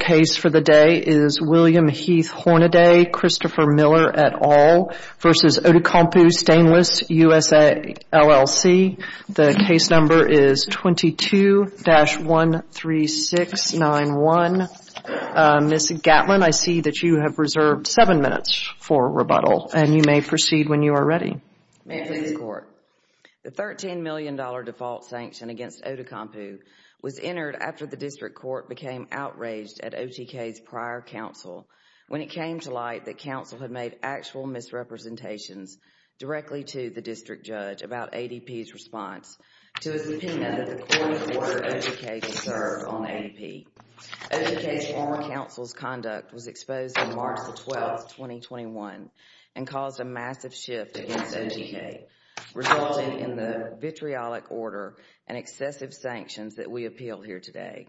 Case for the day is William Heath Hornady, Christopher Miller, et al. v. Outokumpu Stainless USA, LLC. The case number is 22-13691. Ms. Gatlin, I see that you have reserved seven minutes for rebuttal, and you may proceed when you are ready. May it please the Court. The $13 million default sanction against Outokumpu was entered after the District Court became outraged at OTK's prior counsel when it came to light that counsel had made actual misrepresentations directly to the District Judge about ADP's response to his opinion that the court ordered OTK to serve on ADP. OTK's former counsel's conduct was exposed on March 12, 2021, and caused a massive shift against OTK, resulting in the vitriolic order and excessive sanctions that we appeal here today.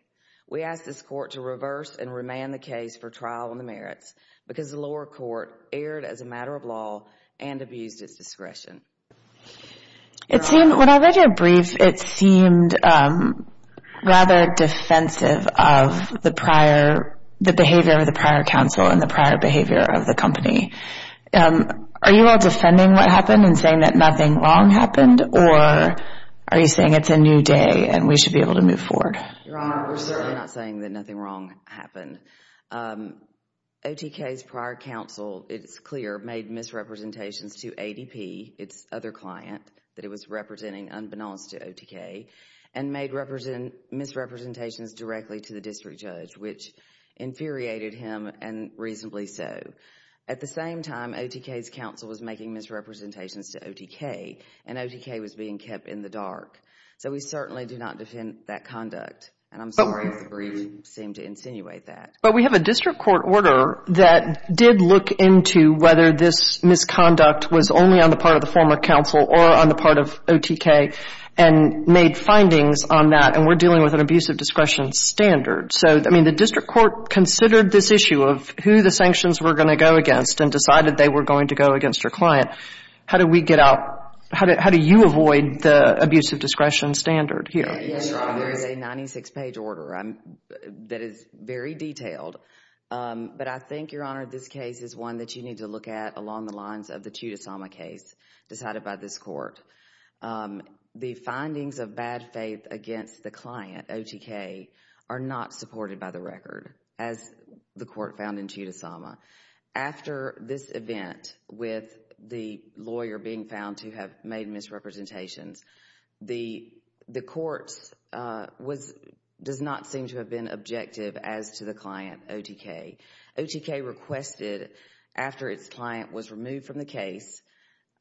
We ask this Court to reverse and remand the case for trial on the merits because the lower court erred as a matter of law and abused its discretion. When I read your briefs, it seemed rather defensive of the behavior of the prior counsel and the prior behavior of the company. Are you all defending what happened and saying that nothing wrong happened, or are you saying it is a new day and we should be able to move forward? Your Honor, we are certainly not saying that nothing wrong happened. OTK's prior counsel, it is clear, made misrepresentations to ADP, its other client, that it was representing unbeknownst to OTK, and made misrepresentations directly to the District Judge, which infuriated him, and reasonably so. At the same time, OTK's counsel was making misrepresentations to OTK, and OTK was being kept in the dark. So we certainly do not defend that conduct, and I am sorry if the brief seemed to insinuate that. But we have a District Court order that did look into whether this misconduct was only on the part of the former counsel or on the part of OTK, and made findings on that, and we are dealing with an abuse of discretion standard. So, I mean, the District Court considered this issue of who the sanctions were going to go against, and decided they were going to go against their client. How do we get out, how do you avoid the abuse of discretion standard here? Yes, Your Honor. There is a 96-page order that is very detailed. But I think, Your Honor, this case is one that you need to look at along the lines of the Chudasama case decided by this Court. The findings of bad faith against the client, OTK, are not supported by the court found in Chudasama. After this event, with the lawyer being found to have made misrepresentations, the courts was, does not seem to have been objective as to the client, OTK. OTK requested after its client was removed from the case,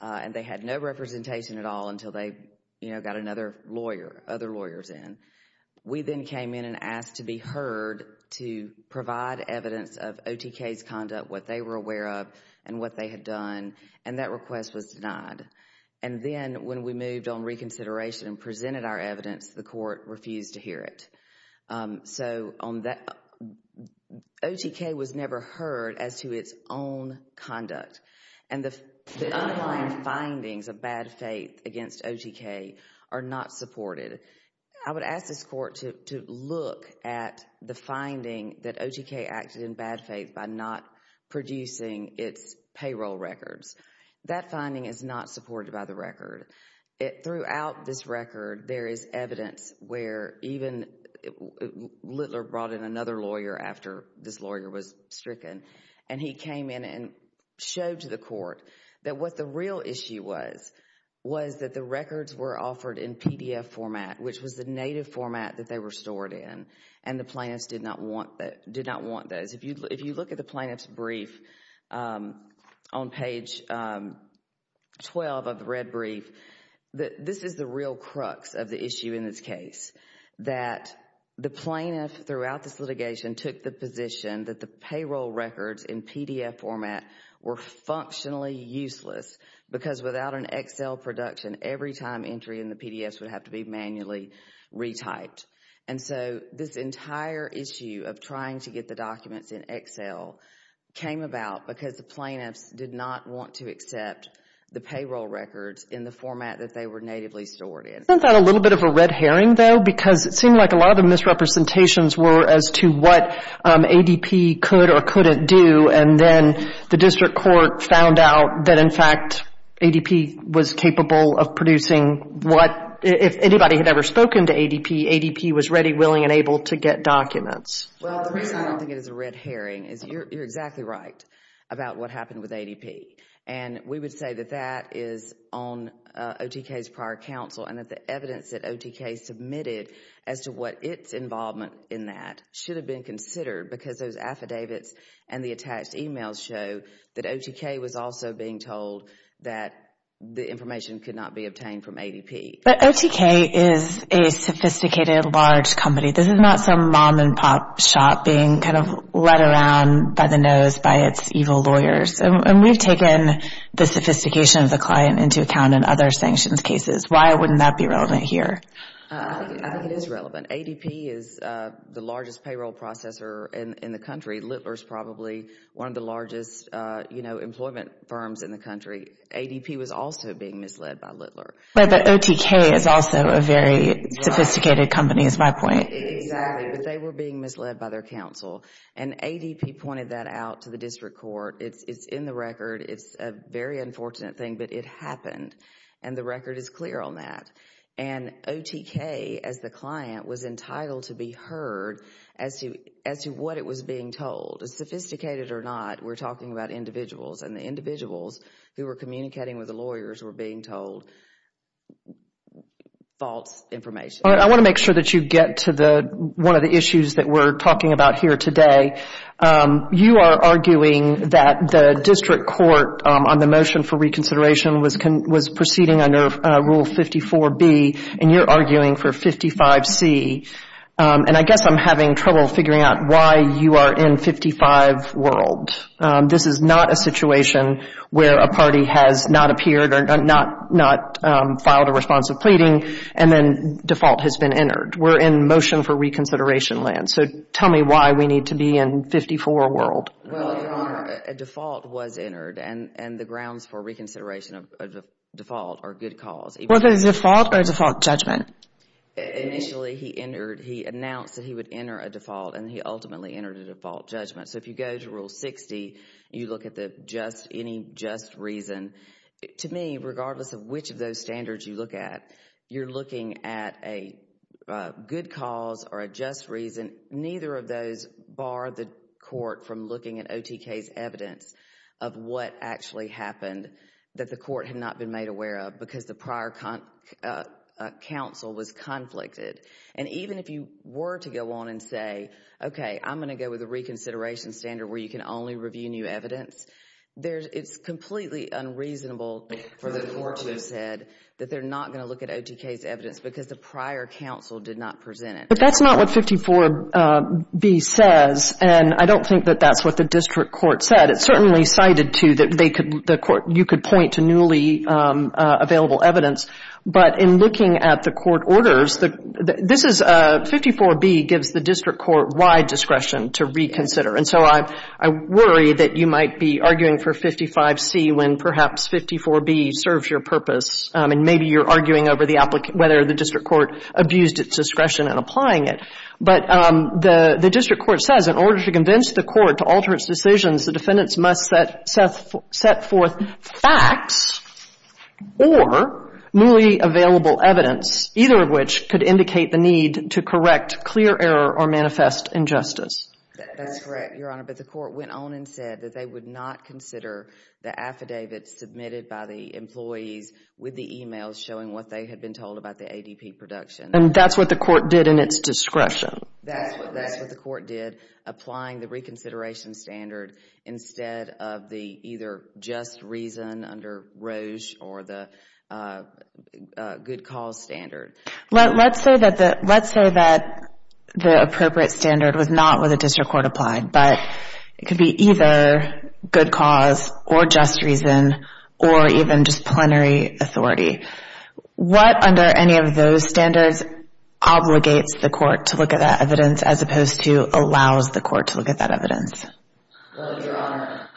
and they had no representation at all until they, you know, got another lawyer, other lawyers in. We then came in and asked to be presented evidence of OTK's conduct, what they were aware of, and what they had done, and that request was denied. And then, when we moved on reconsideration and presented our evidence, the court refused to hear it. So, on that, OTK was never heard as to its own conduct. And the underlying findings of bad faith against OTK are not supported. I would ask this court to look at the finding that OTK acted in bad faith by not producing its payroll records. That finding is not supported by the record. Throughout this record, there is evidence where even, Littler brought in another lawyer after this lawyer was stricken, and he came in and showed to the court that what the real issue was, was that the records were offered in PDF format, which was the native format that they were stored in, and the plaintiffs did not want those. If you look at the plaintiff's brief on page 12 of the red brief, this is the real crux of the issue in this case, that the plaintiff throughout this litigation took the position that the payroll records in PDF format were have to be manually retyped. And so, this entire issue of trying to get the documents in Excel came about because the plaintiffs did not want to accept the payroll records in the format that they were natively stored in. Isn't that a little bit of a red herring, though? Because it seemed like a lot of the misrepresentations were as to what ADP could or couldn't do, and then the district court found out that, in fact, ADP was capable of producing what, if anybody had ever spoken to ADP, ADP was ready, willing, and able to get documents. Well, the reason I don't think it is a red herring is you're exactly right about what happened with ADP, and we would say that that is on OTK's prior counsel, and that the evidence that OTK submitted as to what its involvement in that should have been considered because those affidavits and the attached emails show that OTK was also being told that the information could not be obtained from ADP. But OTK is a sophisticated, large company. This is not some mom-and-pop shop being kind of led around by the nose by its evil lawyers, and we've taken the sophistication of the client into account in other sanctions cases. Why wouldn't that be relevant here? I think it is relevant. ADP is the largest payroll processor in the country. Littler is probably one of the largest employment firms in the country. ADP was also being misled by Littler. But the OTK is also a very sophisticated company, is my point. Exactly, but they were being misled by their counsel, and ADP pointed that out to the district court. It's in the record. It's a very unfortunate thing, but it happened, and the record is clear on that. And OTK, as the client, was entitled to be heard as to what it was being told. Sophisticated or not, we're talking about individuals, and the individuals who were communicating with the lawyers were being told false information. I want to make sure that you get to one of the issues that we're talking about here today. You are arguing that the district court on the motion for reconsideration was proceeding under Rule 54B, and you're arguing for 55C, and I guess I'm having trouble figuring out why you are in 55 world. This is not a situation where a party has not appeared or not filed a response of pleading, and then default has been entered. We're in motion for reconsideration land, so tell me why we need to be in 54 world. Well, Your Honor, a default was entered, and the grounds for reconsideration of a default are good cause. Was it a default or a default judgment? Initially, he announced that he would enter a default, and he ultimately entered a default judgment. So if you go to Rule 60, you look at any just reason. To me, regardless of which of those standards you look at, you're looking at a good cause or a just reason. Neither of those bar the court from looking at OTK's evidence of what actually happened that the court had not been made aware of because the prior counsel was conflicted. And even if you were to go on and say, okay, I'm going to go with a reconsideration standard where you can only review new evidence, it's completely unreasonable for the court to have said that they're not going to look at OTK's evidence because the prior counsel did not present it. But that's not what 54B says, and I don't think that that's what the district court said. It certainly cited to that they could — the court — you could point to newly available evidence. But in looking at the court orders, this is — 54B gives the district court wide discretion to reconsider. And so I worry that you might be arguing for 55C when perhaps 54B serves your purpose, and maybe you're arguing over the — whether the district court abused its discretion in applying it. But the district court says in order to convince the court to alter its decisions, the defendants must set forth facts or newly available evidence, either of which could indicate the need to correct clear error or manifest injustice. That's correct, Your Honor. But the court went on and said that they would not consider the affidavit submitted by the employees with the e-mails showing what they had been told about the ADP production. And that's what the court did in its discretion. That's what the court did, applying the reconsideration standard instead of the either just reason under Roche or the good cause standard. Let's say that the appropriate standard was not what the district court applied, but it could be either good cause or just reason or even just plenary authority. What under any of those standards obligates the court to look at that evidence as opposed to allows the court to look at that evidence? Well, Your Honor,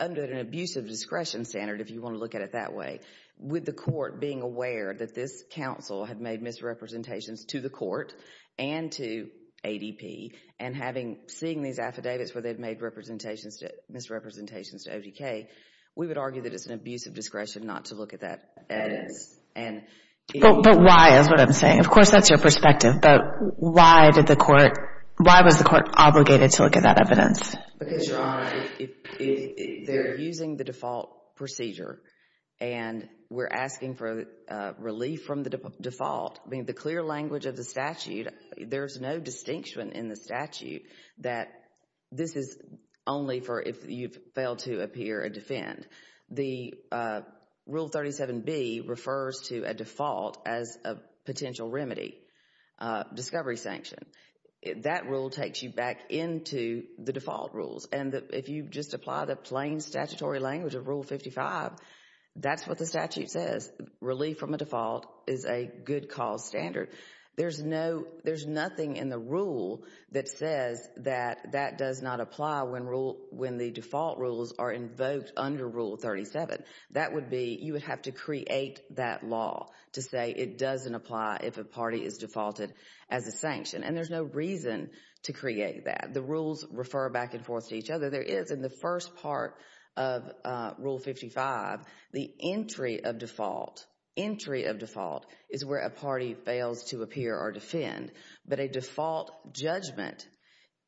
under an abusive discretion standard, if you want to look at it that way, with the court being aware that this counsel had made misrepresentations to the court and to ADP, and having — seeing these affidavits where they've made representations to — misrepresentations to ODK, we would argue that it's an abusive discretion not to look at that evidence. But why is what I'm saying. Of course, that's your perspective. But why did the court — why was the court obligated to look at that evidence? Because, Your Honor, if they're using the default procedure and we're asking for relief from the default, I mean, the clear language of the statute, there's no distinction in the statute that this is only for if you've failed to appear a defend. The Rule 37B refers to a default as a potential remedy, discovery sanction. That rule takes you back into the default rules. And if you just apply the plain statutory language of Rule 55, that's what the statute says. Relief from a default is a good cause standard. There's no — there's no rule that says that that does not apply when rule — when the default rules are invoked under Rule 37. That would be — you would have to create that law to say it doesn't apply if a party is defaulted as a sanction. And there's no reason to create that. The rules refer back and forth to each other. There is, in the first part of Rule 55, the entry of default — entry of default is where a party fails to appear or defend. But a default judgment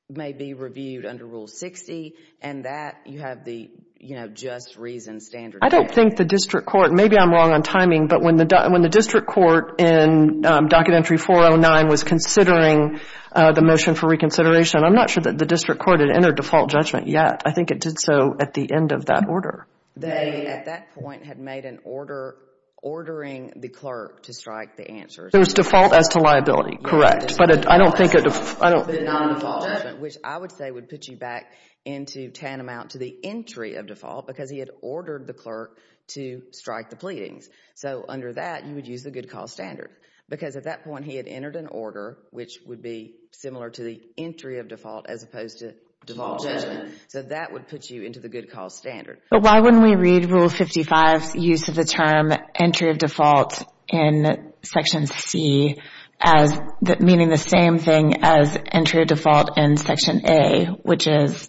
may be reviewed under Rule 60, and that you have the, you know, just reason standard. I don't think the district court — maybe I'm wrong on timing, but when the district court in Documentary 409 was considering the motion for reconsideration, I'm not sure that the district court had entered default judgment yet. I think it did so at the end of that order. They, at that point, had made an order ordering the clerk to strike the answer. There's default as to liability, correct. But I don't think it — The non-default judgment, which I would say would put you back into tantamount to the entry of default because he had ordered the clerk to strike the pleadings. So under that, you would use the good cause standard. Because at that point, he had entered an order which would be similar to the entry of default as opposed to default judgment. So that would put you into the good cause standard. But why wouldn't we read Rule 55's use of the term entry of default in Section C as — meaning the same thing as entry of default in Section A, which is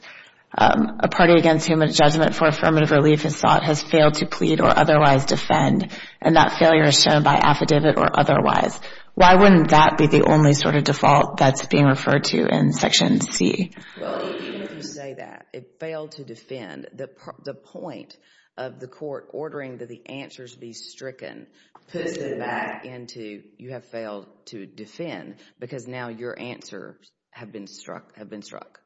a party against whom a judgment for affirmative relief is sought has failed to plead or otherwise defend, and that failure is shown by affidavit or otherwise. Why wouldn't that be the only sort of default that's being referred to in Section C? Well, even if you say that it failed to defend, the point of the court ordering that the answers be stricken puts it back into you have failed to defend because now your answers have been struck — have been struck.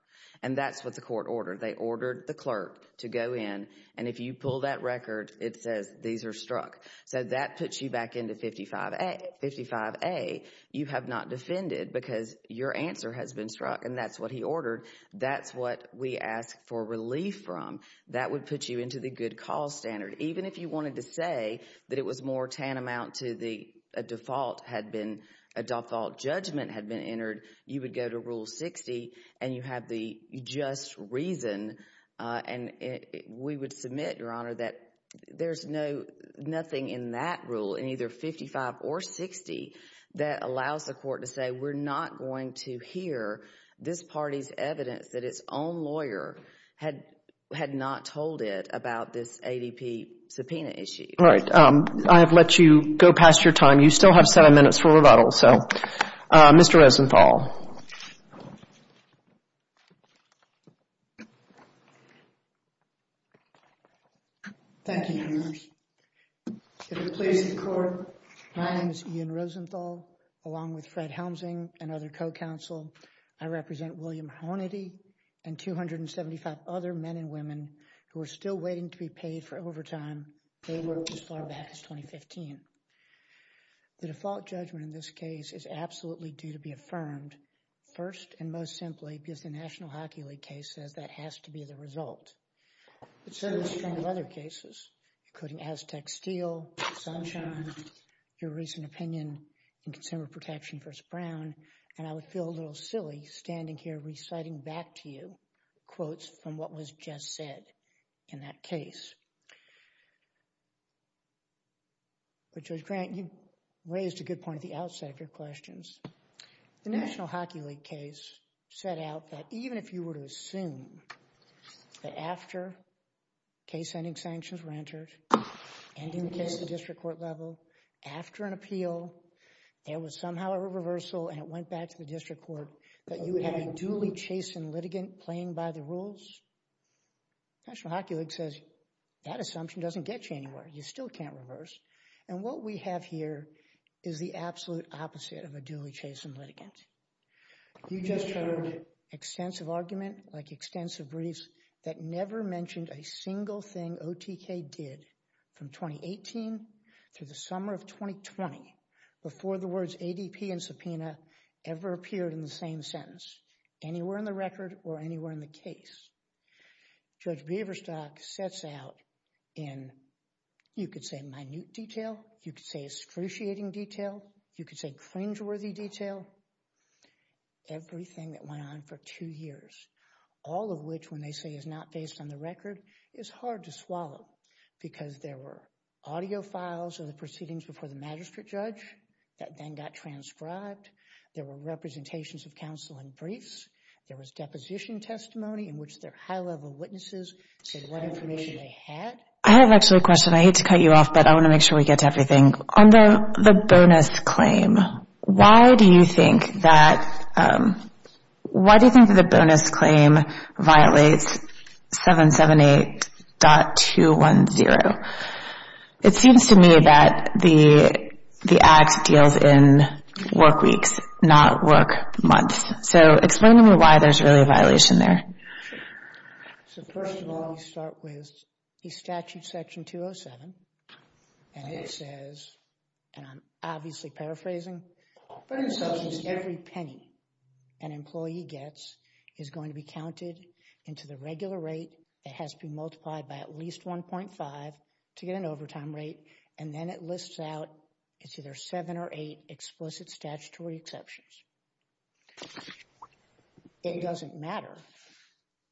And that's what the court ordered. They ordered the clerk to go in, and if you pull that record, it says these are struck. So that puts you back into 55A. 55A, you have not defended because your answer has been struck, and that's what he ordered. That's what we ask for relief from. That would put you into the good cause standard. Even if you wanted to say that it was more tantamount to the default had been — a default judgment had been entered, you would go to Rule 60, and you have the just reason, and we would submit, Your Honor, that there's no — nothing in that rule, in either 55 or 60, that allows the court to say, We're not going to hear this party's evidence that its own lawyer had not told it about this ADP subpoena issue. All right. I have let you go past your time. You still have seven minutes for rebuttal, so Mr. Rosenthal. Thank you, Your Honor. If it pleases the Court, my name is Ian Rosenthal, along with Fred Helmsing and other co-counsel. I represent William Hornady and 275 other men and women who are still waiting to be paid for overtime. They worked as far back as 2015. The default judgment in this case is absolutely due to be affirmed first and most simply because the National Hockey League case says that has to be the result. But so do a string of other cases, including Aztec Steel, Sunshine, your recent opinion in Consumer Protection v. Brown, and I would feel a little silly standing here reciting back to you quotes from what was just said in that case. But Judge Grant, you raised a good point at the outset of your questions. The National Hockey League case set out that even if you were to assume that after case-ending sanctions were entered, ending the case at the district court level, after an appeal, there was somehow a reversal and it went back to the district court that you would have a duly chastened litigant playing by the rules. National Hockey League says that assumption doesn't get you anywhere. You still can't reverse. And what we have here is the absolute opposite of a duly chastened litigant. You just heard extensive argument like extensive briefs that never mentioned a single thing OTK did from 2018 through the summer of 2020 before the words ADP and subpoena ever appeared in the same sentence anywhere in the record or anywhere in the case. Judge Beaverstock sets out in, you could say minute detail, you could say excruciating detail, you could say cringeworthy detail, everything that went on for two years, all of which when they say is not based on the files or the proceedings before the magistrate judge that then got transcribed. There were representations of counsel in briefs. There was deposition testimony in which their high-level witnesses said what information they had. I have actually a question. I hate to cut you off, but I want to make sure we get to everything. On the bonus claim, why do you think that, why do you think that the bonus claim violates 778.210? It seems to me that the act deals in work weeks, not work months. So explain to me why there's really a violation there. So first of all, we start with the statute section 207. And it says, and I'm obviously paraphrasing, but in substance every penny an employee gets is going to be counted into the regular rate. It has to be multiplied by at least 1.5 to get an overtime rate. And then it lists out, it's either seven or eight explicit statutory exceptions. It doesn't matter.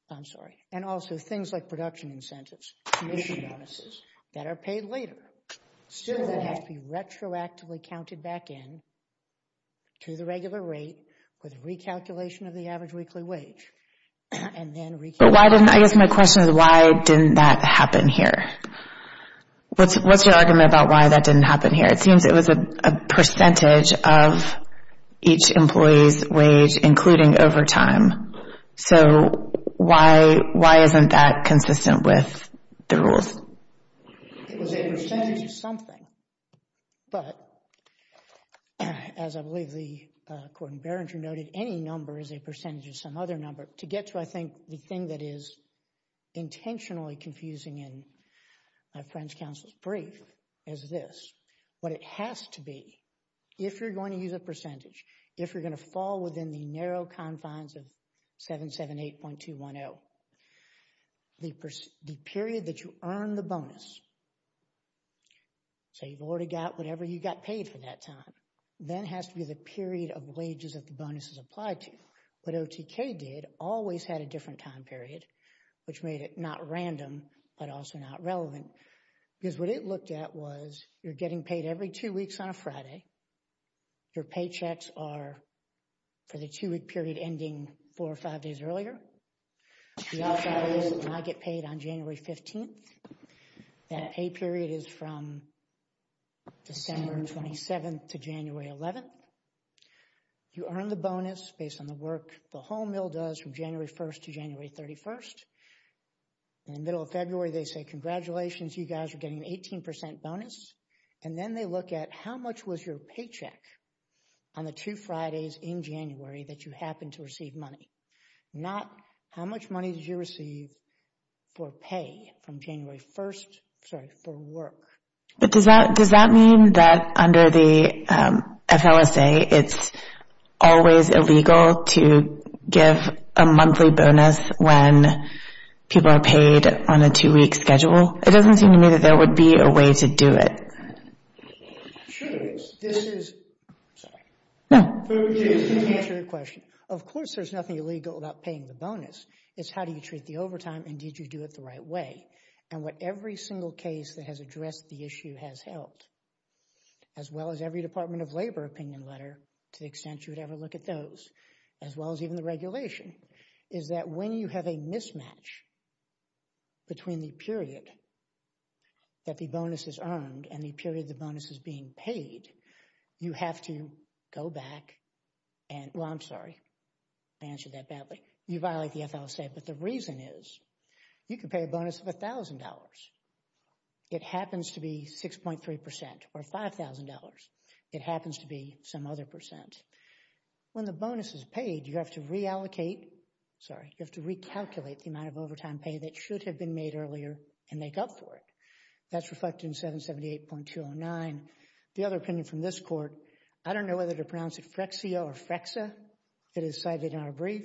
I'm sorry. And also things like production incentives, commission bonuses that are paid later. So that has to be retroactively counted back in to the regular rate with recalculation of the average weekly wage. I guess my question is, why didn't that happen here? What's your argument about why that didn't happen here? It seems it was a percentage of each employee's wage, including overtime. So why isn't that consistent with the rules? It was a percentage of something. But as I believe the court in Berringer noted, any number is a percentage of some other number. To get to, I think, the thing that is intentionally confusing in my friend's counsel's brief, is this. What it has to be, if you're going to use a percentage, if you're going to fall within the narrow confines of 778.210, the period that you earn the bonus, so you've already got whatever you got paid for that time, then has to be the period of wages that the bonus is applied to. What OTK did, always had a different time period, which made it not random, but also not relevant. Because what it looked at was, you're getting paid every two for the two-week period ending four or five days earlier. You also get paid on January 15th. That A period is from December 27th to January 11th. You earn the bonus based on the work the whole mill does from January 1st to January 31st. In the middle of February, they say, congratulations, you guys are getting an 18% bonus. And then they look at how much was your paycheck on the two Fridays in January that you happened to receive money. Not how much money did you receive for pay from January 1st, sorry, for work. But does that mean that under the FLSA, it's always illegal to give a monthly bonus when people are paid on a two-week schedule? It doesn't seem to me that there would be a way to do it. Sure there is. This is, sorry, to answer your question. Of course, there's nothing illegal about paying the bonus. It's how do you treat the overtime and did you do it the right way? And what every single case that has addressed the issue has held, as well as every Department of Labor opinion letter, to the extent you would ever look at those, as well as even the regulation, is that when you have a mismatch between the period that the bonus is earned and the period the bonus is being paid, you have to go back and, well, I'm sorry, I answered that badly. You violate the FLSA. But the reason is you can pay a bonus of $1,000. It happens to be 6.3% or $5,000. It happens to be some other percent. When the bonus is paid, you have to reallocate, sorry, you have to recalculate the amount of overtime pay that should have been made earlier and make up for it. That's reflected in 778.209. The other opinion from this Court, I don't know whether to pronounce it Frexia or Frexa. It is cited in our brief.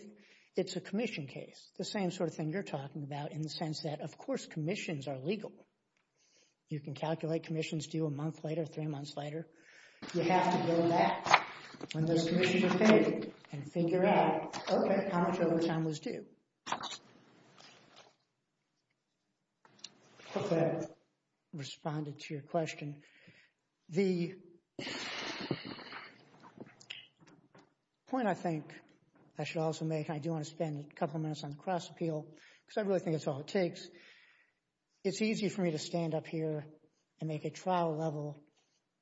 It's a commission case. The same sort of thing you're talking about in the sense that, of course, commissions are legal. You can calculate commissions due a month later, three months later. You have to go back when those commissions are paid and figure out, okay, how much overtime was due. I hope that responded to your question. The point I think I should also make, I do want to spend a couple minutes on the cross appeal because I really think it's all it takes. It's easy for me to stand up here and make a trial level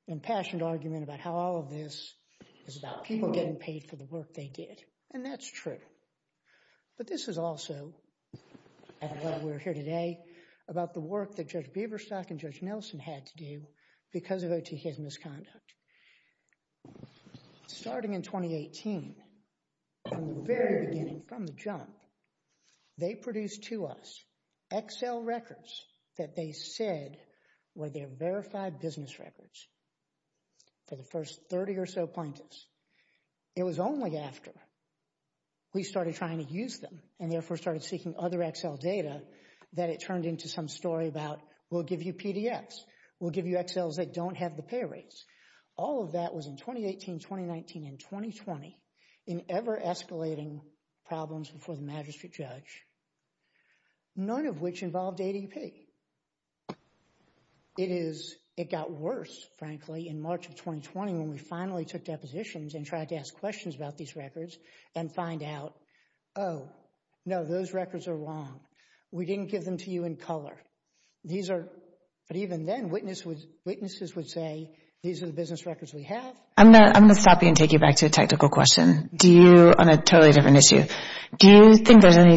impassioned argument about how all of this is about people getting paid for the work they did, and that's true. But this is also, at what we're here today, about the work that Judge Bieberstock and Judge Nelson had to do because of OTK's misconduct. Starting in 2018, from the very beginning, from the jump, they produced to us XL records that they said were their verified business records for the first 30 or so plaintiffs. It was only after we started trying to use them and therefore started seeking other XL data that it turned into some story about, we'll give you PDFs. We'll give you XLs that don't have the pay rates. All of that was in 2018, 2019, and 2020 in ever escalating problems before the magistrate judge, none of which involved ADP. It is, it got worse, frankly, in March of 2020 when we finally took depositions and tried to ask questions about these records and find out, oh, no, those records are wrong. We didn't give them to you in color. These are, but even then, witnesses would say, these are the business records we have. I'm going to stop you and take you back to a technical question. Do you, on a totally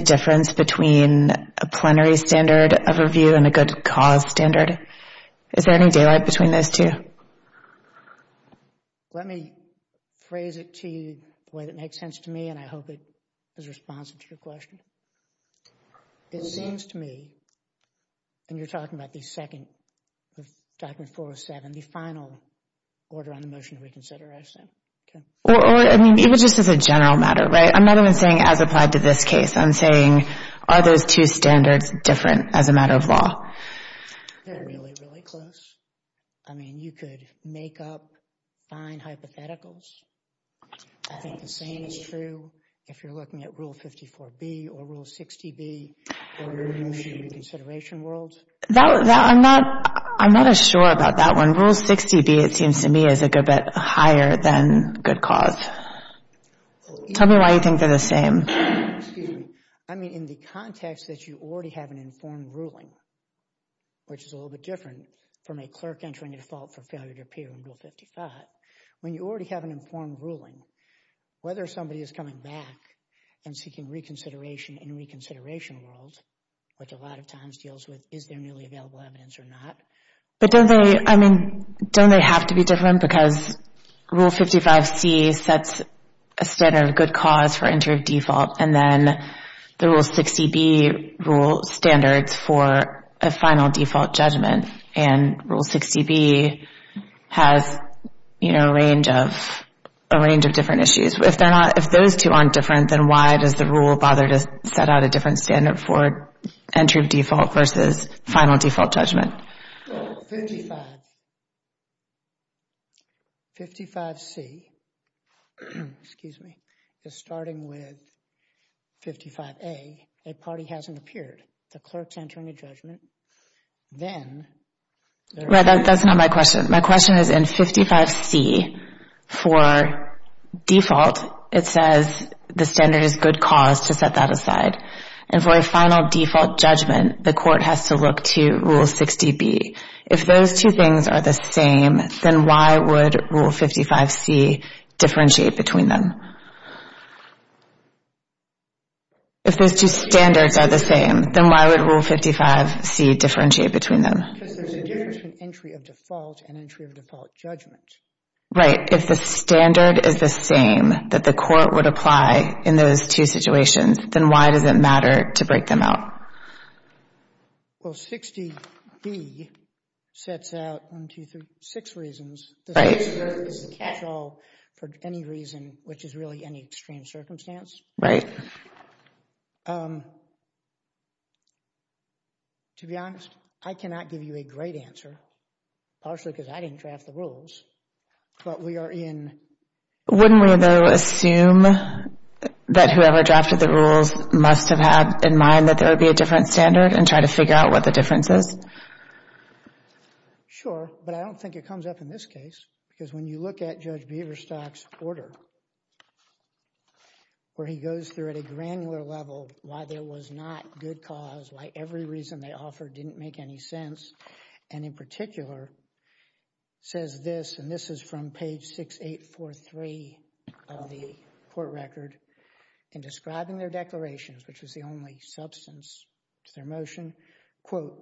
difference between a plenary standard of review and a good cause standard? Is there any daylight between those two? Let me phrase it to you the way that makes sense to me, and I hope it is responsive to your question. It seems to me, and you're talking about the second, the document 407, the final order on the motion to reconsider, I assume. I mean, even just as a general matter, right? I'm not even saying as applied to this case. I'm saying, are those two standards different as a matter of law? They're really, really close. I mean, you could make up fine hypotheticals. I think the same is true if you're looking at Rule 54B or Rule 60B, or the motion to reconsideration world. I'm not as sure about that one. Rule 60B, it seems to me, is a good bit higher than good cause. Tell me why you think they're the same. Excuse me. I mean, in the context that you already have an informed ruling, which is a little bit different from a clerk entering a default for failure to appear in Rule 55, when you already have an informed ruling, whether somebody is coming back and seeking reconsideration in reconsideration world, which a lot of times deals with, is there newly available evidence or not? But don't they, I mean, don't they have to be different because Rule 55C sets a standard of good cause for entry of default, and then the Rule 60B rule standards for a final default judgment, and Rule 60B has a range of different issues. If they're not, if those two aren't different, then why does the rule bother to set out a different standard for entry of default versus final default judgment? 55, 55C, excuse me, is starting with 55A. A party hasn't appeared. The clerk's entering a judgment. Then, that's not my question. My question is in 55C, for default, it says the standard is good cause to set that aside. And for a final default judgment, the court has to look to Rule 60B. If those two things are the same, then why would Rule 55C differentiate between them? If those two standards are the same, then why would Rule 55C differentiate between them? Because there's a difference between entry of default and entry of default judgment. Right. If the standard is the same that the court would apply in those two situations, then why does it matter to break them out? Well, 60B sets out one, two, three, six reasons. Right. The standard is a catch-all for any reason, which is really any extreme circumstance. Right. To be honest, I cannot give you a great answer, partially because I didn't draft the rules, but we are in... Wouldn't we, though, assume that whoever drafted the rules must have had in mind that there would be a different standard and try to figure out what the difference is? Sure, but I don't think it comes up in this case, because when you look at Judge Beaverstock's order, where he goes through at a granular level why there was not good cause, why every reason they offered didn't make any sense, and in particular, it says this, and this is from page 6843 of the court record, in describing their declarations, which was the only substance to their motion, quote,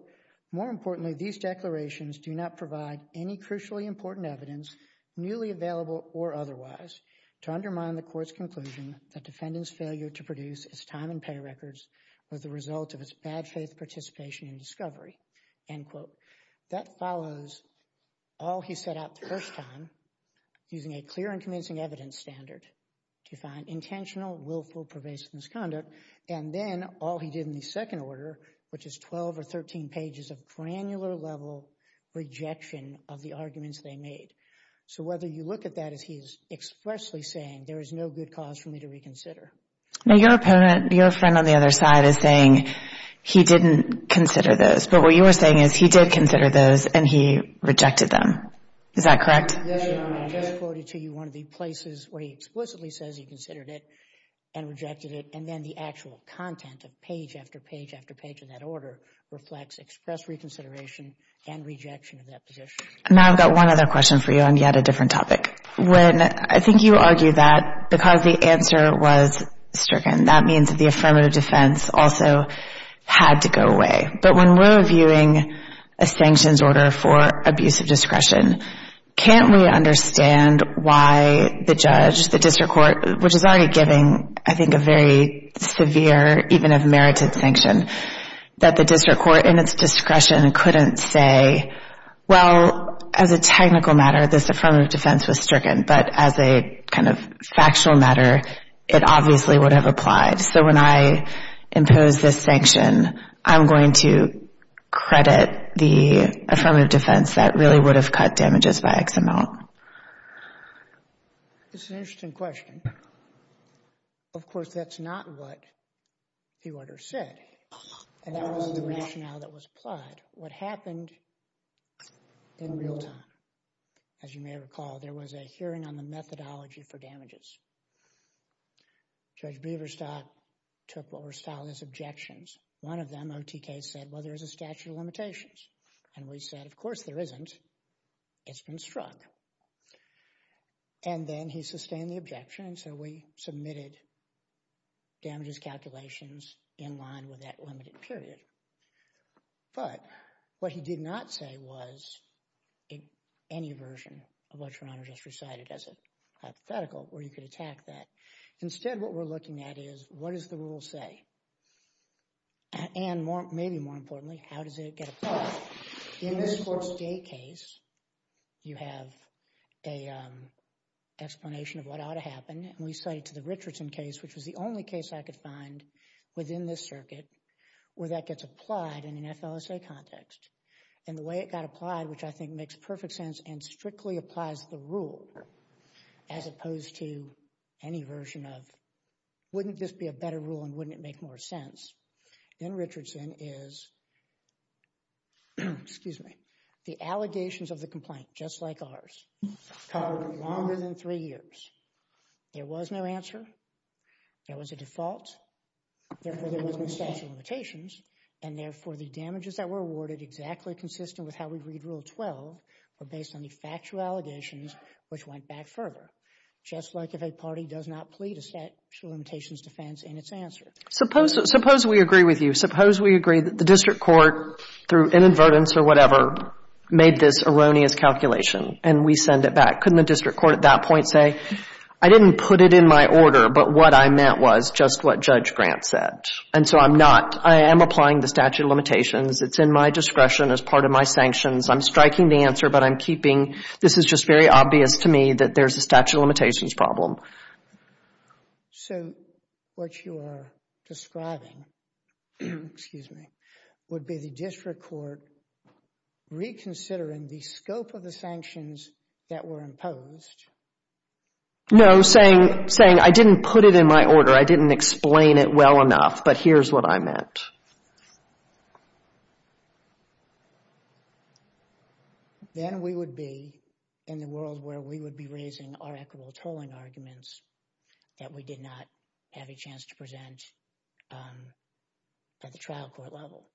more importantly, these declarations do not provide any crucially important evidence, newly available or otherwise, to undermine the court's conclusion that defendant's failure to produce his time and pay records That follows all he set out the first time, using a clear and convincing evidence standard to find intentional, willful, pervasive misconduct, and then all he did in the second order, which is 12 or 13 pages of granular level rejection of the arguments they made. So whether you look at that as he's expressly saying, there is no good cause for me to reconsider. Now your opponent, your friend on the other side is saying he didn't consider those, but what you were saying is he did consider those and he rejected them. Is that correct? Yes, Your Honor, I just quoted to you one of the places where he explicitly says he considered it and rejected it, and then the actual content of page after page after page of that order reflects express reconsideration and rejection of that position. Now I've got one other question for you on yet a different topic. When, I think you argue that because the answer was stricken, that means that the affirmative defense also had to go away. But when we're viewing a sanctions order for abuse of discretion, can't we understand why the judge, the district court, which is already giving, I think, a very severe, even of merited sanction, that the district court in its discretion couldn't say, well, as a technical matter, this affirmative defense was stricken, but as a kind of factual matter, it obviously would have applied. So when I impose this sanction, I'm going to credit the affirmative defense that really would have cut damages by X amount. It's an interesting question. Of course, that's not what the order said, and that was the rationale that was applied. What happened in real time, as you may recall, there was a hearing on the methodology for damages. Judge Biverstock took what were styled as objections. One of them, OTK said, well, there is a statute of limitations. And we said, of course there isn't. It's been struck. And then he sustained the objection, and so we submitted damages calculations in line with that limited period. But what he did not say was any version of what your honor just recited as a hypothetical, where you could attack that. Instead, what we're looking at is, what does the rule say? And maybe more importantly, how does it get applied? In this court's day case, you have an explanation of what ought to happen. We cited to the Richardson case, which was the only case I could find within this circuit, where that gets applied in an FLSA context. And the way it got applied, which I think makes perfect sense and strictly applies the rule, as opposed to any version of, wouldn't this be a better rule and wouldn't it make more sense? In Richardson is, excuse me, the allegations of the complaint, just like ours, covered longer than three years. There was no answer. There was a default. Therefore, there was no statute of limitations. And therefore, the damages that were awarded, exactly consistent with how we read Rule 12, were based on the factual allegations, which went back further. Just like if a party does not plead a statute of limitations defense in its answer. Suppose, suppose we agree with you. Suppose we agree that the district court, through inadvertence or whatever, made this erroneous calculation and we send it back. Couldn't the district court at that point say, I didn't put it in my order, but what I meant was just what Judge Grant said. And so I'm not, I am applying the statute of limitations. It's in my discretion as part of my sanctions. I'm striking the answer, but I'm keeping, this is just very obvious to me that there's a statute of limitations problem. So what you are describing, excuse me, would be the district court reconsidering the scope of the sanctions that were imposed. No, saying, saying I didn't put it in my order. I didn't explain it well enough, but here's what I meant. So, then we would be in the world where we would be raising our equitable tolling arguments that we did not have a chance to present at the trial court level.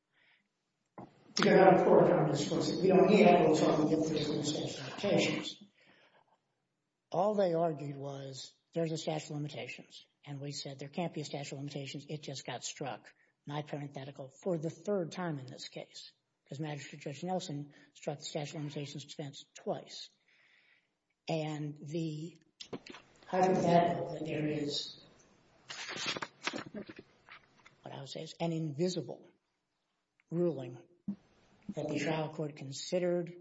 All they argued was there's a statute of limitations. And we said there can't be a statute of limitations. It just got struck, my parenthetical, for the third time in this case, because Magistrate Judge Nelson struck the statute of limitations defense twice. And the hypothetical that there is, what I would say is an invisible ruling that the trial court considered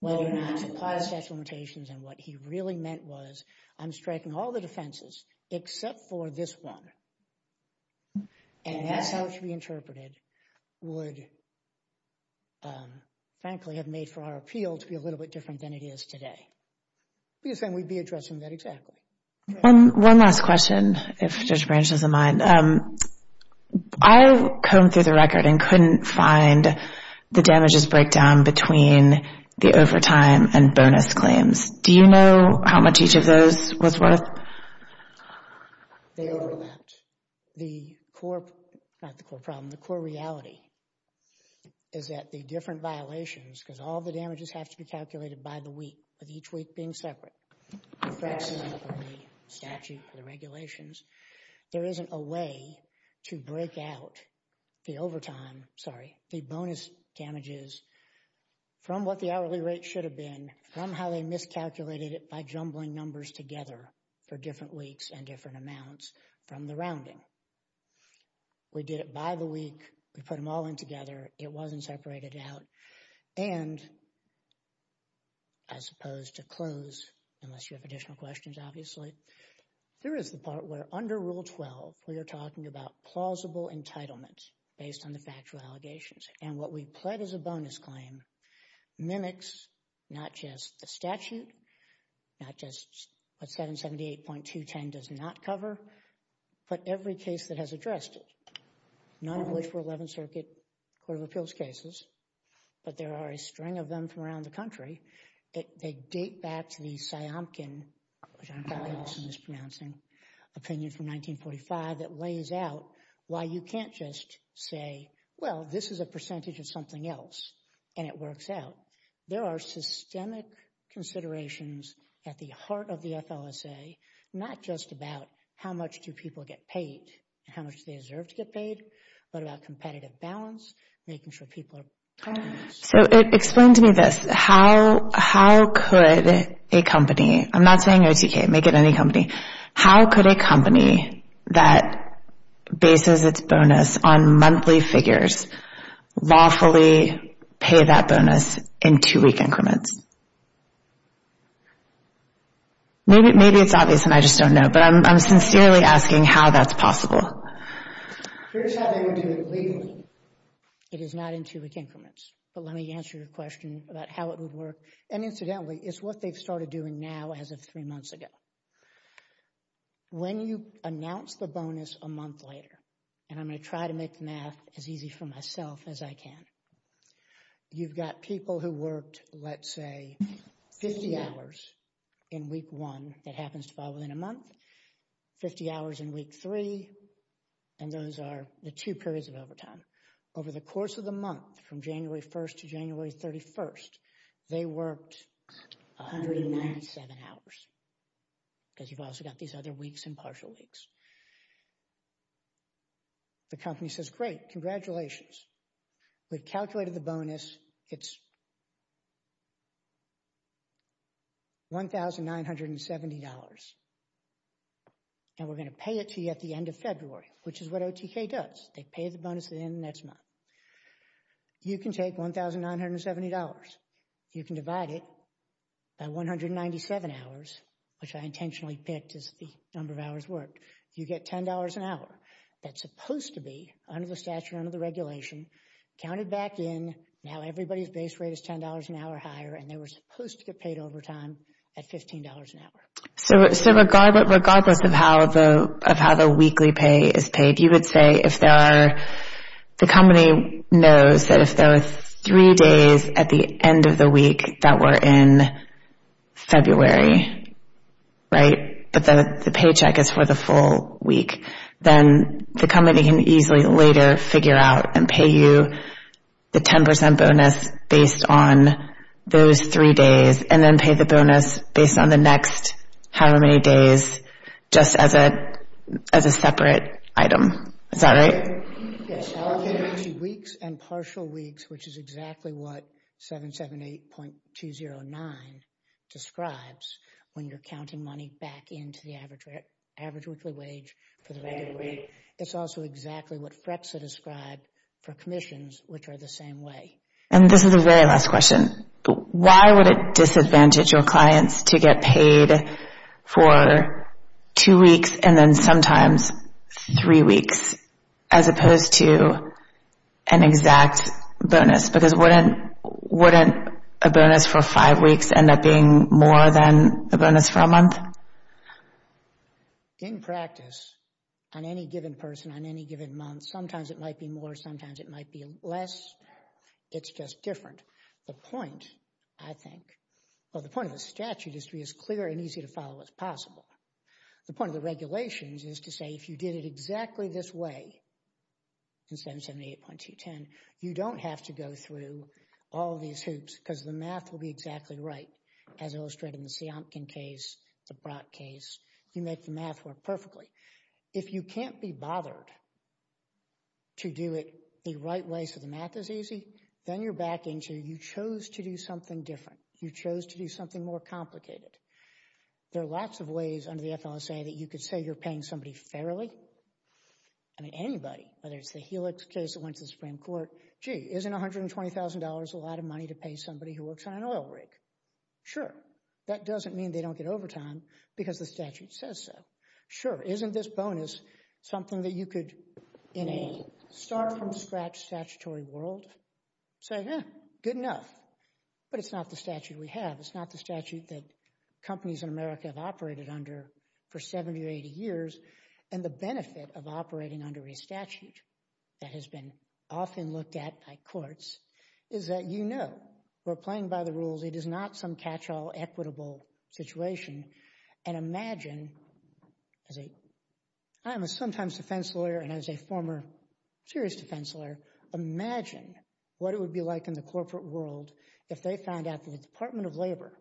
whether or not to apply the statute of limitations. And what he really meant was I'm striking all the defenses except for this one. And that's how it should be interpreted would, frankly, have made for our appeal to be a little bit different than it is today. Because then we'd be addressing that exactly. One last question, if Judge Branch doesn't mind. I combed through the record and couldn't find the damages breakdown between the overtime and bonus claims. Do you know how much each of those was worth? They overlapped. The core, not the core problem, the core reality is that the different violations, because all of the damages have to be calculated by the week, with each week being separate, the precedent for the statute, for the regulations. There isn't a way to break out the overtime, sorry, the bonus damages from what the hourly rate should have been, from how they miscalculated it by jumbling numbers together for different weeks and different amounts, from the rounding. We did it by the week. We put them all in together. It wasn't separated out. And, as opposed to close, unless you have additional questions, obviously, there is the part where under Rule 12, we are talking about plausible entitlement based on the factual allegations. And what we pled as a bonus claim mimics not just the statute, not just what 778.210 does not cover, but every case that has addressed it. None of which were 11th Circuit Court of Appeals cases, but there are a string of them from around the country. They date back to the Siamkin, which I'm probably mispronouncing, opinion from 1945 that lays out why you can't just say, well, this is a percentage of something else and it works out. There are systemic considerations at the heart of the FLSA, not just about how much do people get paid, how much they deserve to get paid, but about competitive balance, making sure people are... So, explain to me this. How could a company, I'm not saying OTK, make it any company, how could a company that bases its bonus on monthly figures lawfully pay that bonus in two-week increments? Maybe it's obvious and I just don't know, but I'm sincerely asking how that's possible. Here's how they would do it legally. It is not in two-week increments. But let me answer your question about how it would work. And incidentally, it's what they've started doing now as of three months ago. When you announce the bonus a month later, and I'm going to try to make math as easy for myself as I can, you've got people who worked, let's say, 50 hours in week one that happens to fall within a month, 50 hours in week three, and those are the two periods of overtime. Over the course of the month from January 1st to January 31st, they worked 197 hours. Because you've also got these other weeks and partial weeks. The company says, great, congratulations. We've calculated the bonus. It's $1,970. And we're going to pay it to you at the end of February, which is what OTK does. They pay the bonus at the end of the next month. You can take $1,970. You can divide it by 197 hours, which I intentionally picked as the number of hours worked. You get $10 an hour. That's supposed to be, under the statute, under the regulation, counted back in. Now everybody's base rate is $10 an hour higher, and they were supposed to get paid overtime at $15 an hour. So regardless of how the weekly pay is paid, you would say if there are, the company knows that if there are three days at the end of the week that were in February, right, but the paycheck is for the full week, then the company can easily later figure out and pay you the 10% bonus based on those three days and then pay the bonus based on the next however many days just as a separate item. Is that right? Yes, I'll give you two weeks and partial weeks, which is exactly what 778.209 describes when you're counting money back into the average weekly wage for the regular week. It's also exactly what FREXA described for commissions, which are the same way. And this is the very last question. Why would it disadvantage your clients to get paid for two weeks and then sometimes three weeks as opposed to an exact bonus? Because wouldn't a bonus for five weeks end up being more than a bonus for a month? Well, in practice, on any given person, on any given month, sometimes it might be more, sometimes it might be less. It's just different. The point, I think, well, the point of the statute is to be as clear and easy to follow as possible. The point of the regulations is to say if you did it exactly this way in 778.210, you don't have to go through all these hoops because the math will be exactly right as illustrated in the Seampkin case, the Brock case. You make the math work perfectly. If you can't be bothered to do it the right way so the math is easy, then you're back into you chose to do something different. You chose to do something more complicated. There are lots of ways under the FLSA that you could say you're paying somebody fairly. I mean, anybody, whether it's the Helix case that went to the Supreme Court, gee, isn't $120,000 a lot of money to pay somebody who works on an oil rig? Sure. That doesn't mean they don't get overtime because the statute says so. Sure. Isn't this bonus something that you could, in a start-from-scratch statutory world, say, yeah, good enough. But it's not the statute we have. It's not the statute that companies in America have operated under for 70 or 80 years. And the benefit of operating under a statute that has been often looked at by courts is that you know we're playing by the rules. It is not some catch-all equitable situation. And imagine, I'm a sometimes defense lawyer and I was a former serious defense lawyer. Imagine what it would be like in the corporate world if they found out that the Department of Labor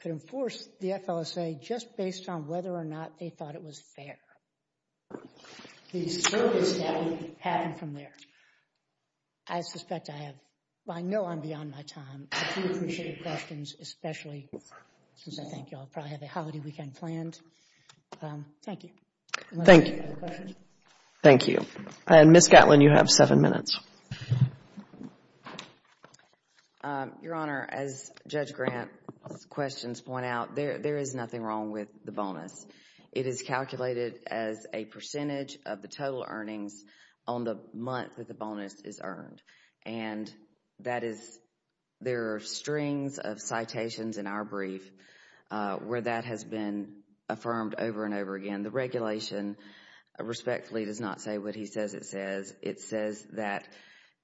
could enforce the FLSA just based on whether or not they thought it was fair. The service that would happen from there. I suspect I have, I know I'm beyond my time. But I do appreciate your questions, especially since I think you all probably have a holiday weekend planned. Thank you. Thank you. Thank you. And Ms. Gatlin, you have seven minutes. Your Honor, as Judge Grant's questions point out, there is nothing wrong with the bonus. It is calculated as a percentage of the total earnings on the month that the bonus is earned. And that is, there are strings of citations in our brief where that has been affirmed over and over again. The regulation respectfully does not say what he says it says. It says that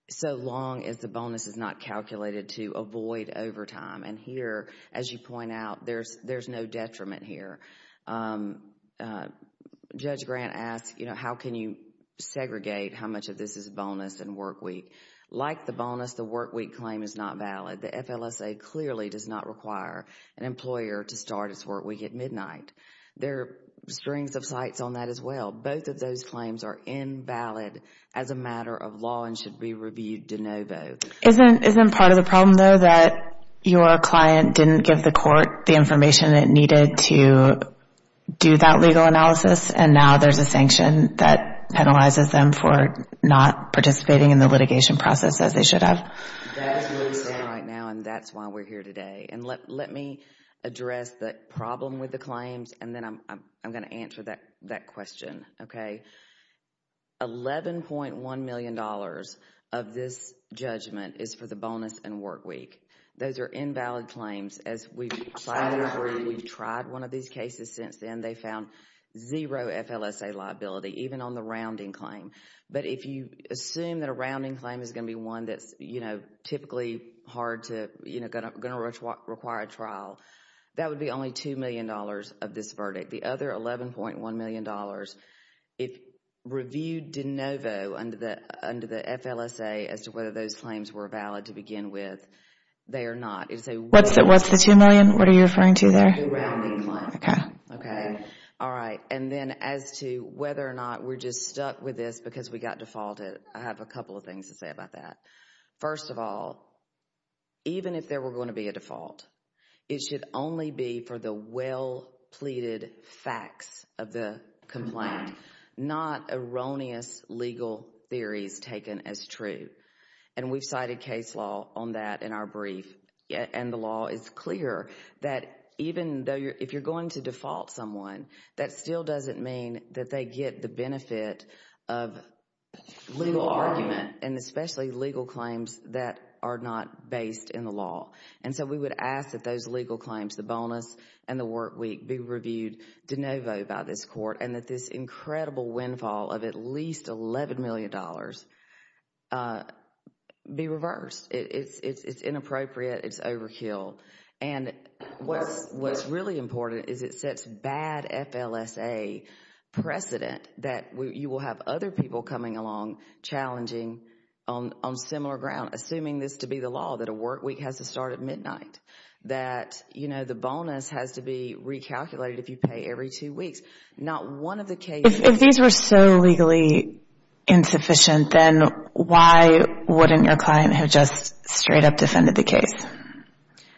so long as the bonus is not calculated to avoid overtime. And here, as you point out, there's no detriment here. Judge Grant asked, you know, how can you segregate how much of this is bonus and work week? Like the bonus, the work week claim is not valid. The FLSA clearly does not require an employer to start his work week at midnight. There are strings of cites on that as well. Both of those claims are invalid as a matter of law and should be reviewed de novo. Isn't part of the problem, though, that your client didn't give the court the information it needed to do that legal analysis and now there's a sanction that penalizes them for not participating in the litigation process as they should have? That's what we're saying right now and that's why we're here today. And let me address the problem with the claims and then I'm going to answer that question. Okay, $11.1 million of this judgment is for the bonus and work week. Those are invalid claims. As we've tried one of these cases since then, they found zero FLSA liability, even on the rounding claim. But if you assume that a rounding claim is going to be one that's, you know, typically hard to, you know, going to require a trial, that would be only $2 million of this verdict. The other $11.1 million, if reviewed de novo under the FLSA as to whether those claims were valid to begin with, they are not. What's the $2 million? What are you referring to there? The rounding claim. Okay, all right. And then as to whether or not we're just stuck with this because we got defaulted, I have a couple of things to say about that. First of all, even if there were going to be a default, it should only be for the well pleaded facts of the complaint, not erroneous legal theories taken as true. And we've cited case law on that in our brief and the law is clear that even though if you're going to default someone, that still doesn't mean that they get the benefit of legal argument and especially legal claims that are not based in the law. And so we would ask that those legal claims, the bonus and the work week, be reviewed de novo by this court and that this incredible windfall of at least $11 million be reversed. It's inappropriate. It's overkill. And what's really important is it sets bad FLSA precedent that you will have other people coming along challenging on similar ground, assuming this to be the law, that a work week has to start at midnight, that the bonus has to be recalculated if you pay every two weeks. Not one of the cases... If these were so legally insufficient, then why wouldn't your client have just straight up defended the case?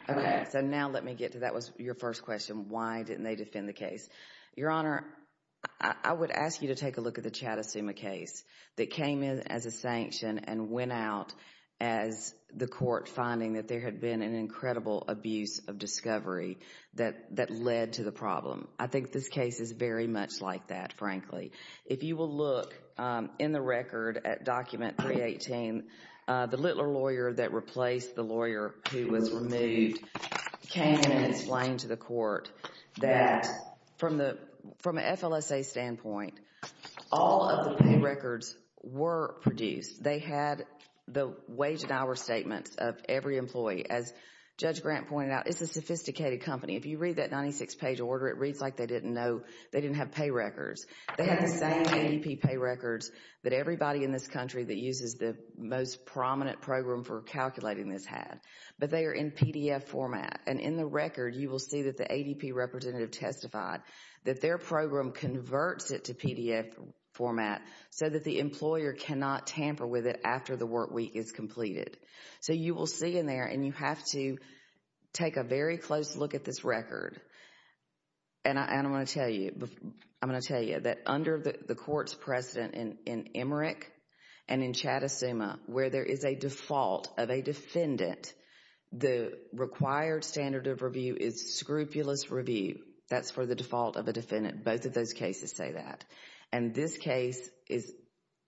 Okay. So now let me get to that was your first question. Why didn't they defend the case? Your Honor, I would ask you to take a look at the Chattisuma case that came in as a sanction and went out as the court finding that there had been an incredible abuse of discovery that led to the problem. I think this case is very much like that, frankly. If you will look in the record at document 318, the littler lawyer that replaced the lawyer who was removed came and explained to the court that from an FLSA standpoint, all of the pay records were produced. They had the wage and hour statements of every employee. As Judge Grant pointed out, it's a sophisticated company. If you read that 96-page order, it reads like they didn't have pay records. They had the same ADP pay records that everybody in this country that uses the most prominent program for calculating this had, but they are in PDF format. And in the record, you will see that the ADP representative testified that their program converts it to PDF format so that the employer cannot tamper with it after the work week is completed. So you will see in there, and you have to take a very close look at this record. And I'm going to tell you, I'm going to tell you that under the court's precedent in Emmerich and in Chattisuma, where there is a default of a defendant, the required standard of review is scrupulous review. That's for the default of a defendant. Both of those cases say that. And this case is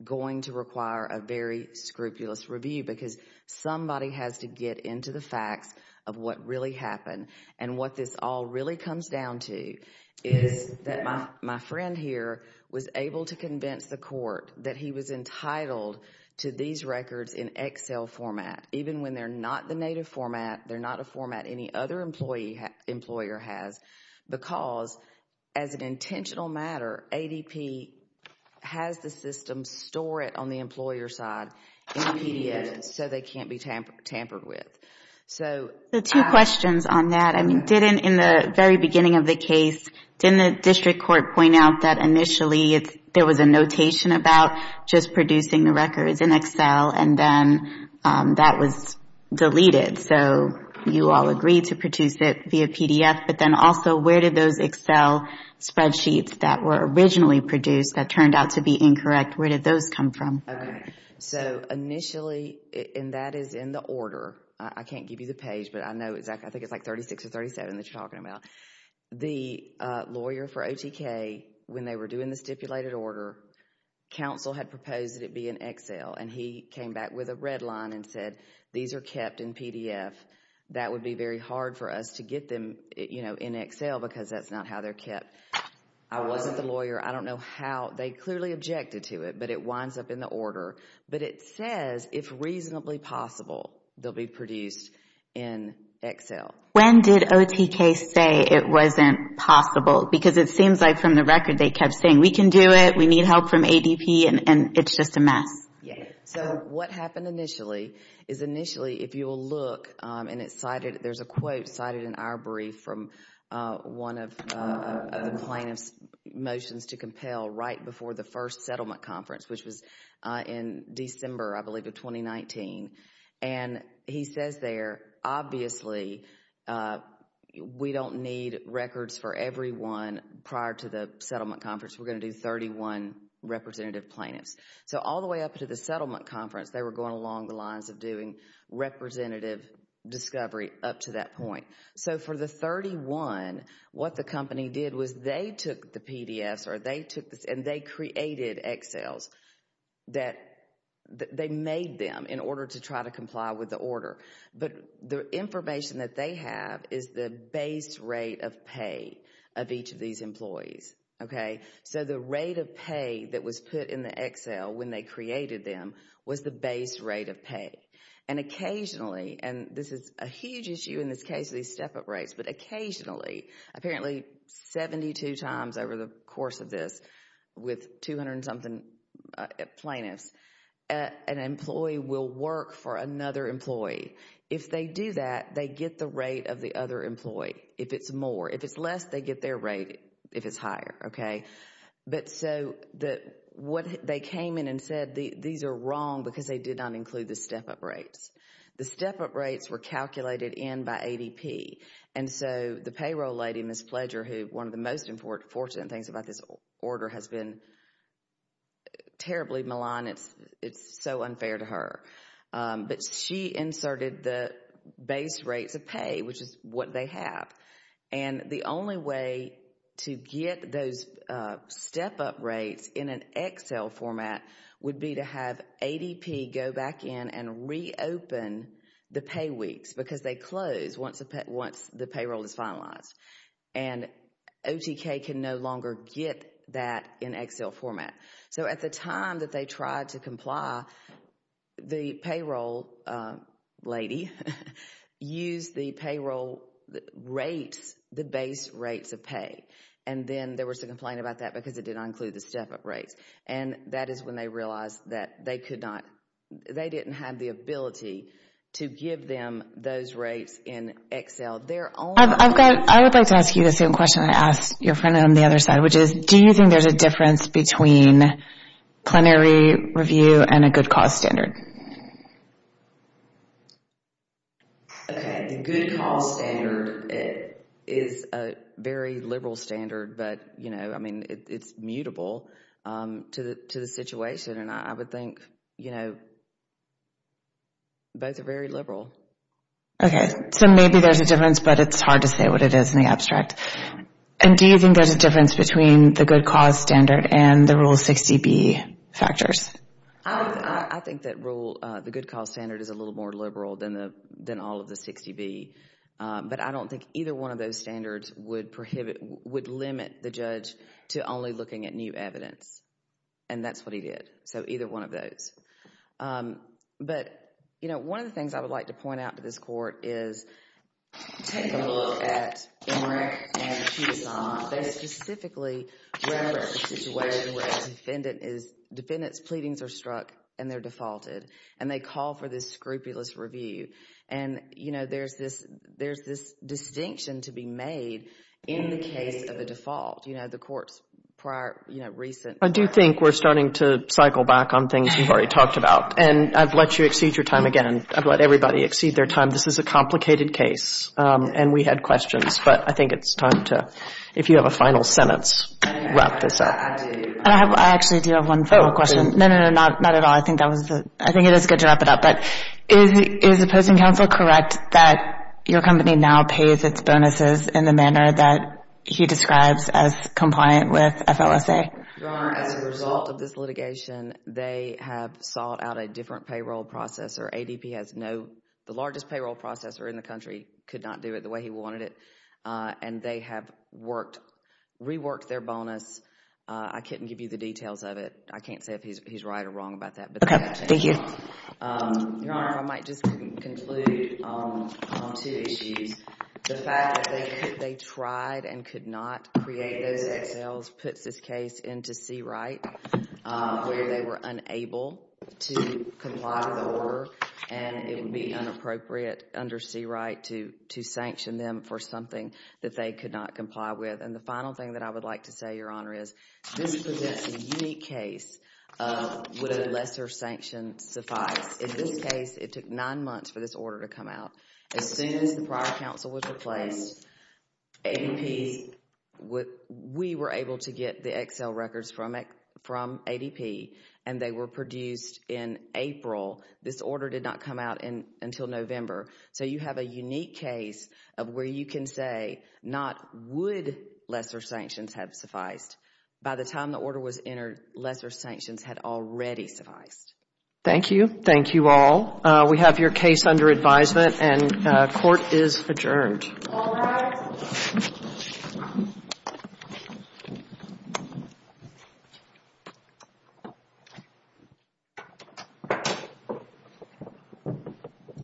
going to require a very scrupulous review because somebody has to get into the facts of what really happened and what this all really comes down to is that my friend here was able to convince the court that he was entitled to these records in Excel format, even when they're not the native format, they're not a format any other employer has, because as an intentional matter, ADP has the system store it on the employer side in PDF so they can't be tampered with. So... The two questions on that, I mean, didn't in the very beginning of the case, didn't the district court point out that initially there was a notation about just producing the records in Excel and then that was deleted? So you all agreed to produce it via PDF, but then also where did those Excel spreadsheets that were originally produced, that turned out to be incorrect, where did those come from? Okay. So initially, and that is in the order, I can't give you the page, but I know exactly, I think it's like 36 or 37 that you're talking about. The lawyer for OTK, when they were doing the stipulated order, counsel had proposed that it be in Excel and he came back with a red line and said, these are kept in PDF. That would be very hard for us to get them in Excel because that's not how they're kept. I wasn't the lawyer. I don't know how, they clearly objected to it, but it winds up in the order. But it says, if reasonably possible, they'll be produced in Excel. When did OTK say it wasn't possible? Because it seems like from the record, they kept saying, we can do it. We need help from ADP and it's just a mess. Yeah. So what happened initially is initially, if you will look and it's cited, there's a quote cited in our brief from one of the plaintiff's motions to compel right before the first settlement conference, which was in December, I believe of 2019. And he says there, obviously, we don't need records for everyone prior to the settlement conference. We're going to do 31 representative plaintiffs. So all the way up to the settlement conference, they were going along the lines of doing representative discovery up to that point. So for the 31, what the company did was they took the PDFs and they created Excels that they made them in order to try to comply with the order. But the information that they have is the base rate of pay of each of these employees. Okay. So the rate of pay that was put in the Excel when they created them was the base rate of pay. And occasionally, and this is a huge issue in this case of these step-up rates, but occasionally, apparently 72 times over the course of this, with 200 and something plaintiffs, an employee will work for another employee. If they do that, they get the rate of the other employee. If it's more, if it's less, they get their rate if it's higher. Okay. But so that what they came in and said, these are wrong because they did not include the step-up rates. The step-up rates were calculated in by ADP. And so the payroll lady, Ms. Pledger, who one of the most important fortunate things about this order has been terribly maligned. It's so unfair to her. But she inserted the base rates of pay, which is what they have. And the only way to get those step-up rates in an Excel format would be to have ADP go back in and reopen the pay weeks because they close once the payroll is finalized. And OTK can no longer get that in Excel format. So at the time that they tried to comply, the payroll lady used the payroll rates, the base rates of pay. And then there was a complaint about that because it did not include the step-up rates. And that is when they realized that they could not, they didn't have the ability to give them those rates in Excel. I've got, I would like to ask you the same question I asked your friend on the other side, which is, do you think there's a difference between plenary review and a good cause standard? Okay, the good cause standard is a very liberal standard. But, you know, I mean, it's mutable to the situation. And I would think, you know, both are very liberal. Okay, so maybe there's a difference, but it's hard to say what it is in the abstract. And do you think there's a difference between the good cause standard and the Rule 60B factors? I think that Rule, the good cause standard is a little more liberal than all of the 60B. But I don't think either one of those standards would prohibit, would limit the judge to only looking at new evidence. And that's what he did. So either one of those. Um, but, you know, one of the things I would like to point out to this Court is, take a look at Emmerich and Cousin. They specifically reference the situation where a defendant is, defendant's pleadings are struck and they're defaulted. And they call for this scrupulous review. And, you know, there's this, there's this distinction to be made in the case of a default. You know, the Court's prior, you know, recent. I do think we're starting to cycle back on things we've already talked about. And I've let you exceed your time again. I've let everybody exceed their time. This is a complicated case. And we had questions. But I think it's time to, if you have a final sentence, wrap this up. And I have, I actually do have one final question. No, no, no, not at all. I think that was, I think it is good to wrap it up. But is the Posting Counsel correct that your company now pays its bonuses in the manner that he describes as compliant with FLSA? Your Honor, as a result of this litigation, they have sought out a different payroll processor. ADP has no, the largest payroll processor in the country could not do it the way he wanted it. And they have worked, reworked their bonus. I couldn't give you the details of it. I can't say if he's right or wrong about that. Okay, thank you. Your Honor, if I might just conclude on two issues. The fact that they tried and could not create those excels puts this case into C-Right. Where they were unable to comply with the order and it would be inappropriate under C-Right to sanction them for something that they could not comply with. And the final thing that I would like to say, Your Honor, is this presents a unique case of would a lesser sanction suffice. In this case, it took nine months for this order to come out. As soon as the prior counsel was replaced, ADP, we were able to get the Excel records from ADP and they were produced in April. This order did not come out until November. So you have a unique case of where you can say not would lesser sanctions have sufficed. By the time the order was entered, lesser sanctions had already sufficed. Thank you. Thank you all. We have your case under advisement and court is adjourned. Thank you.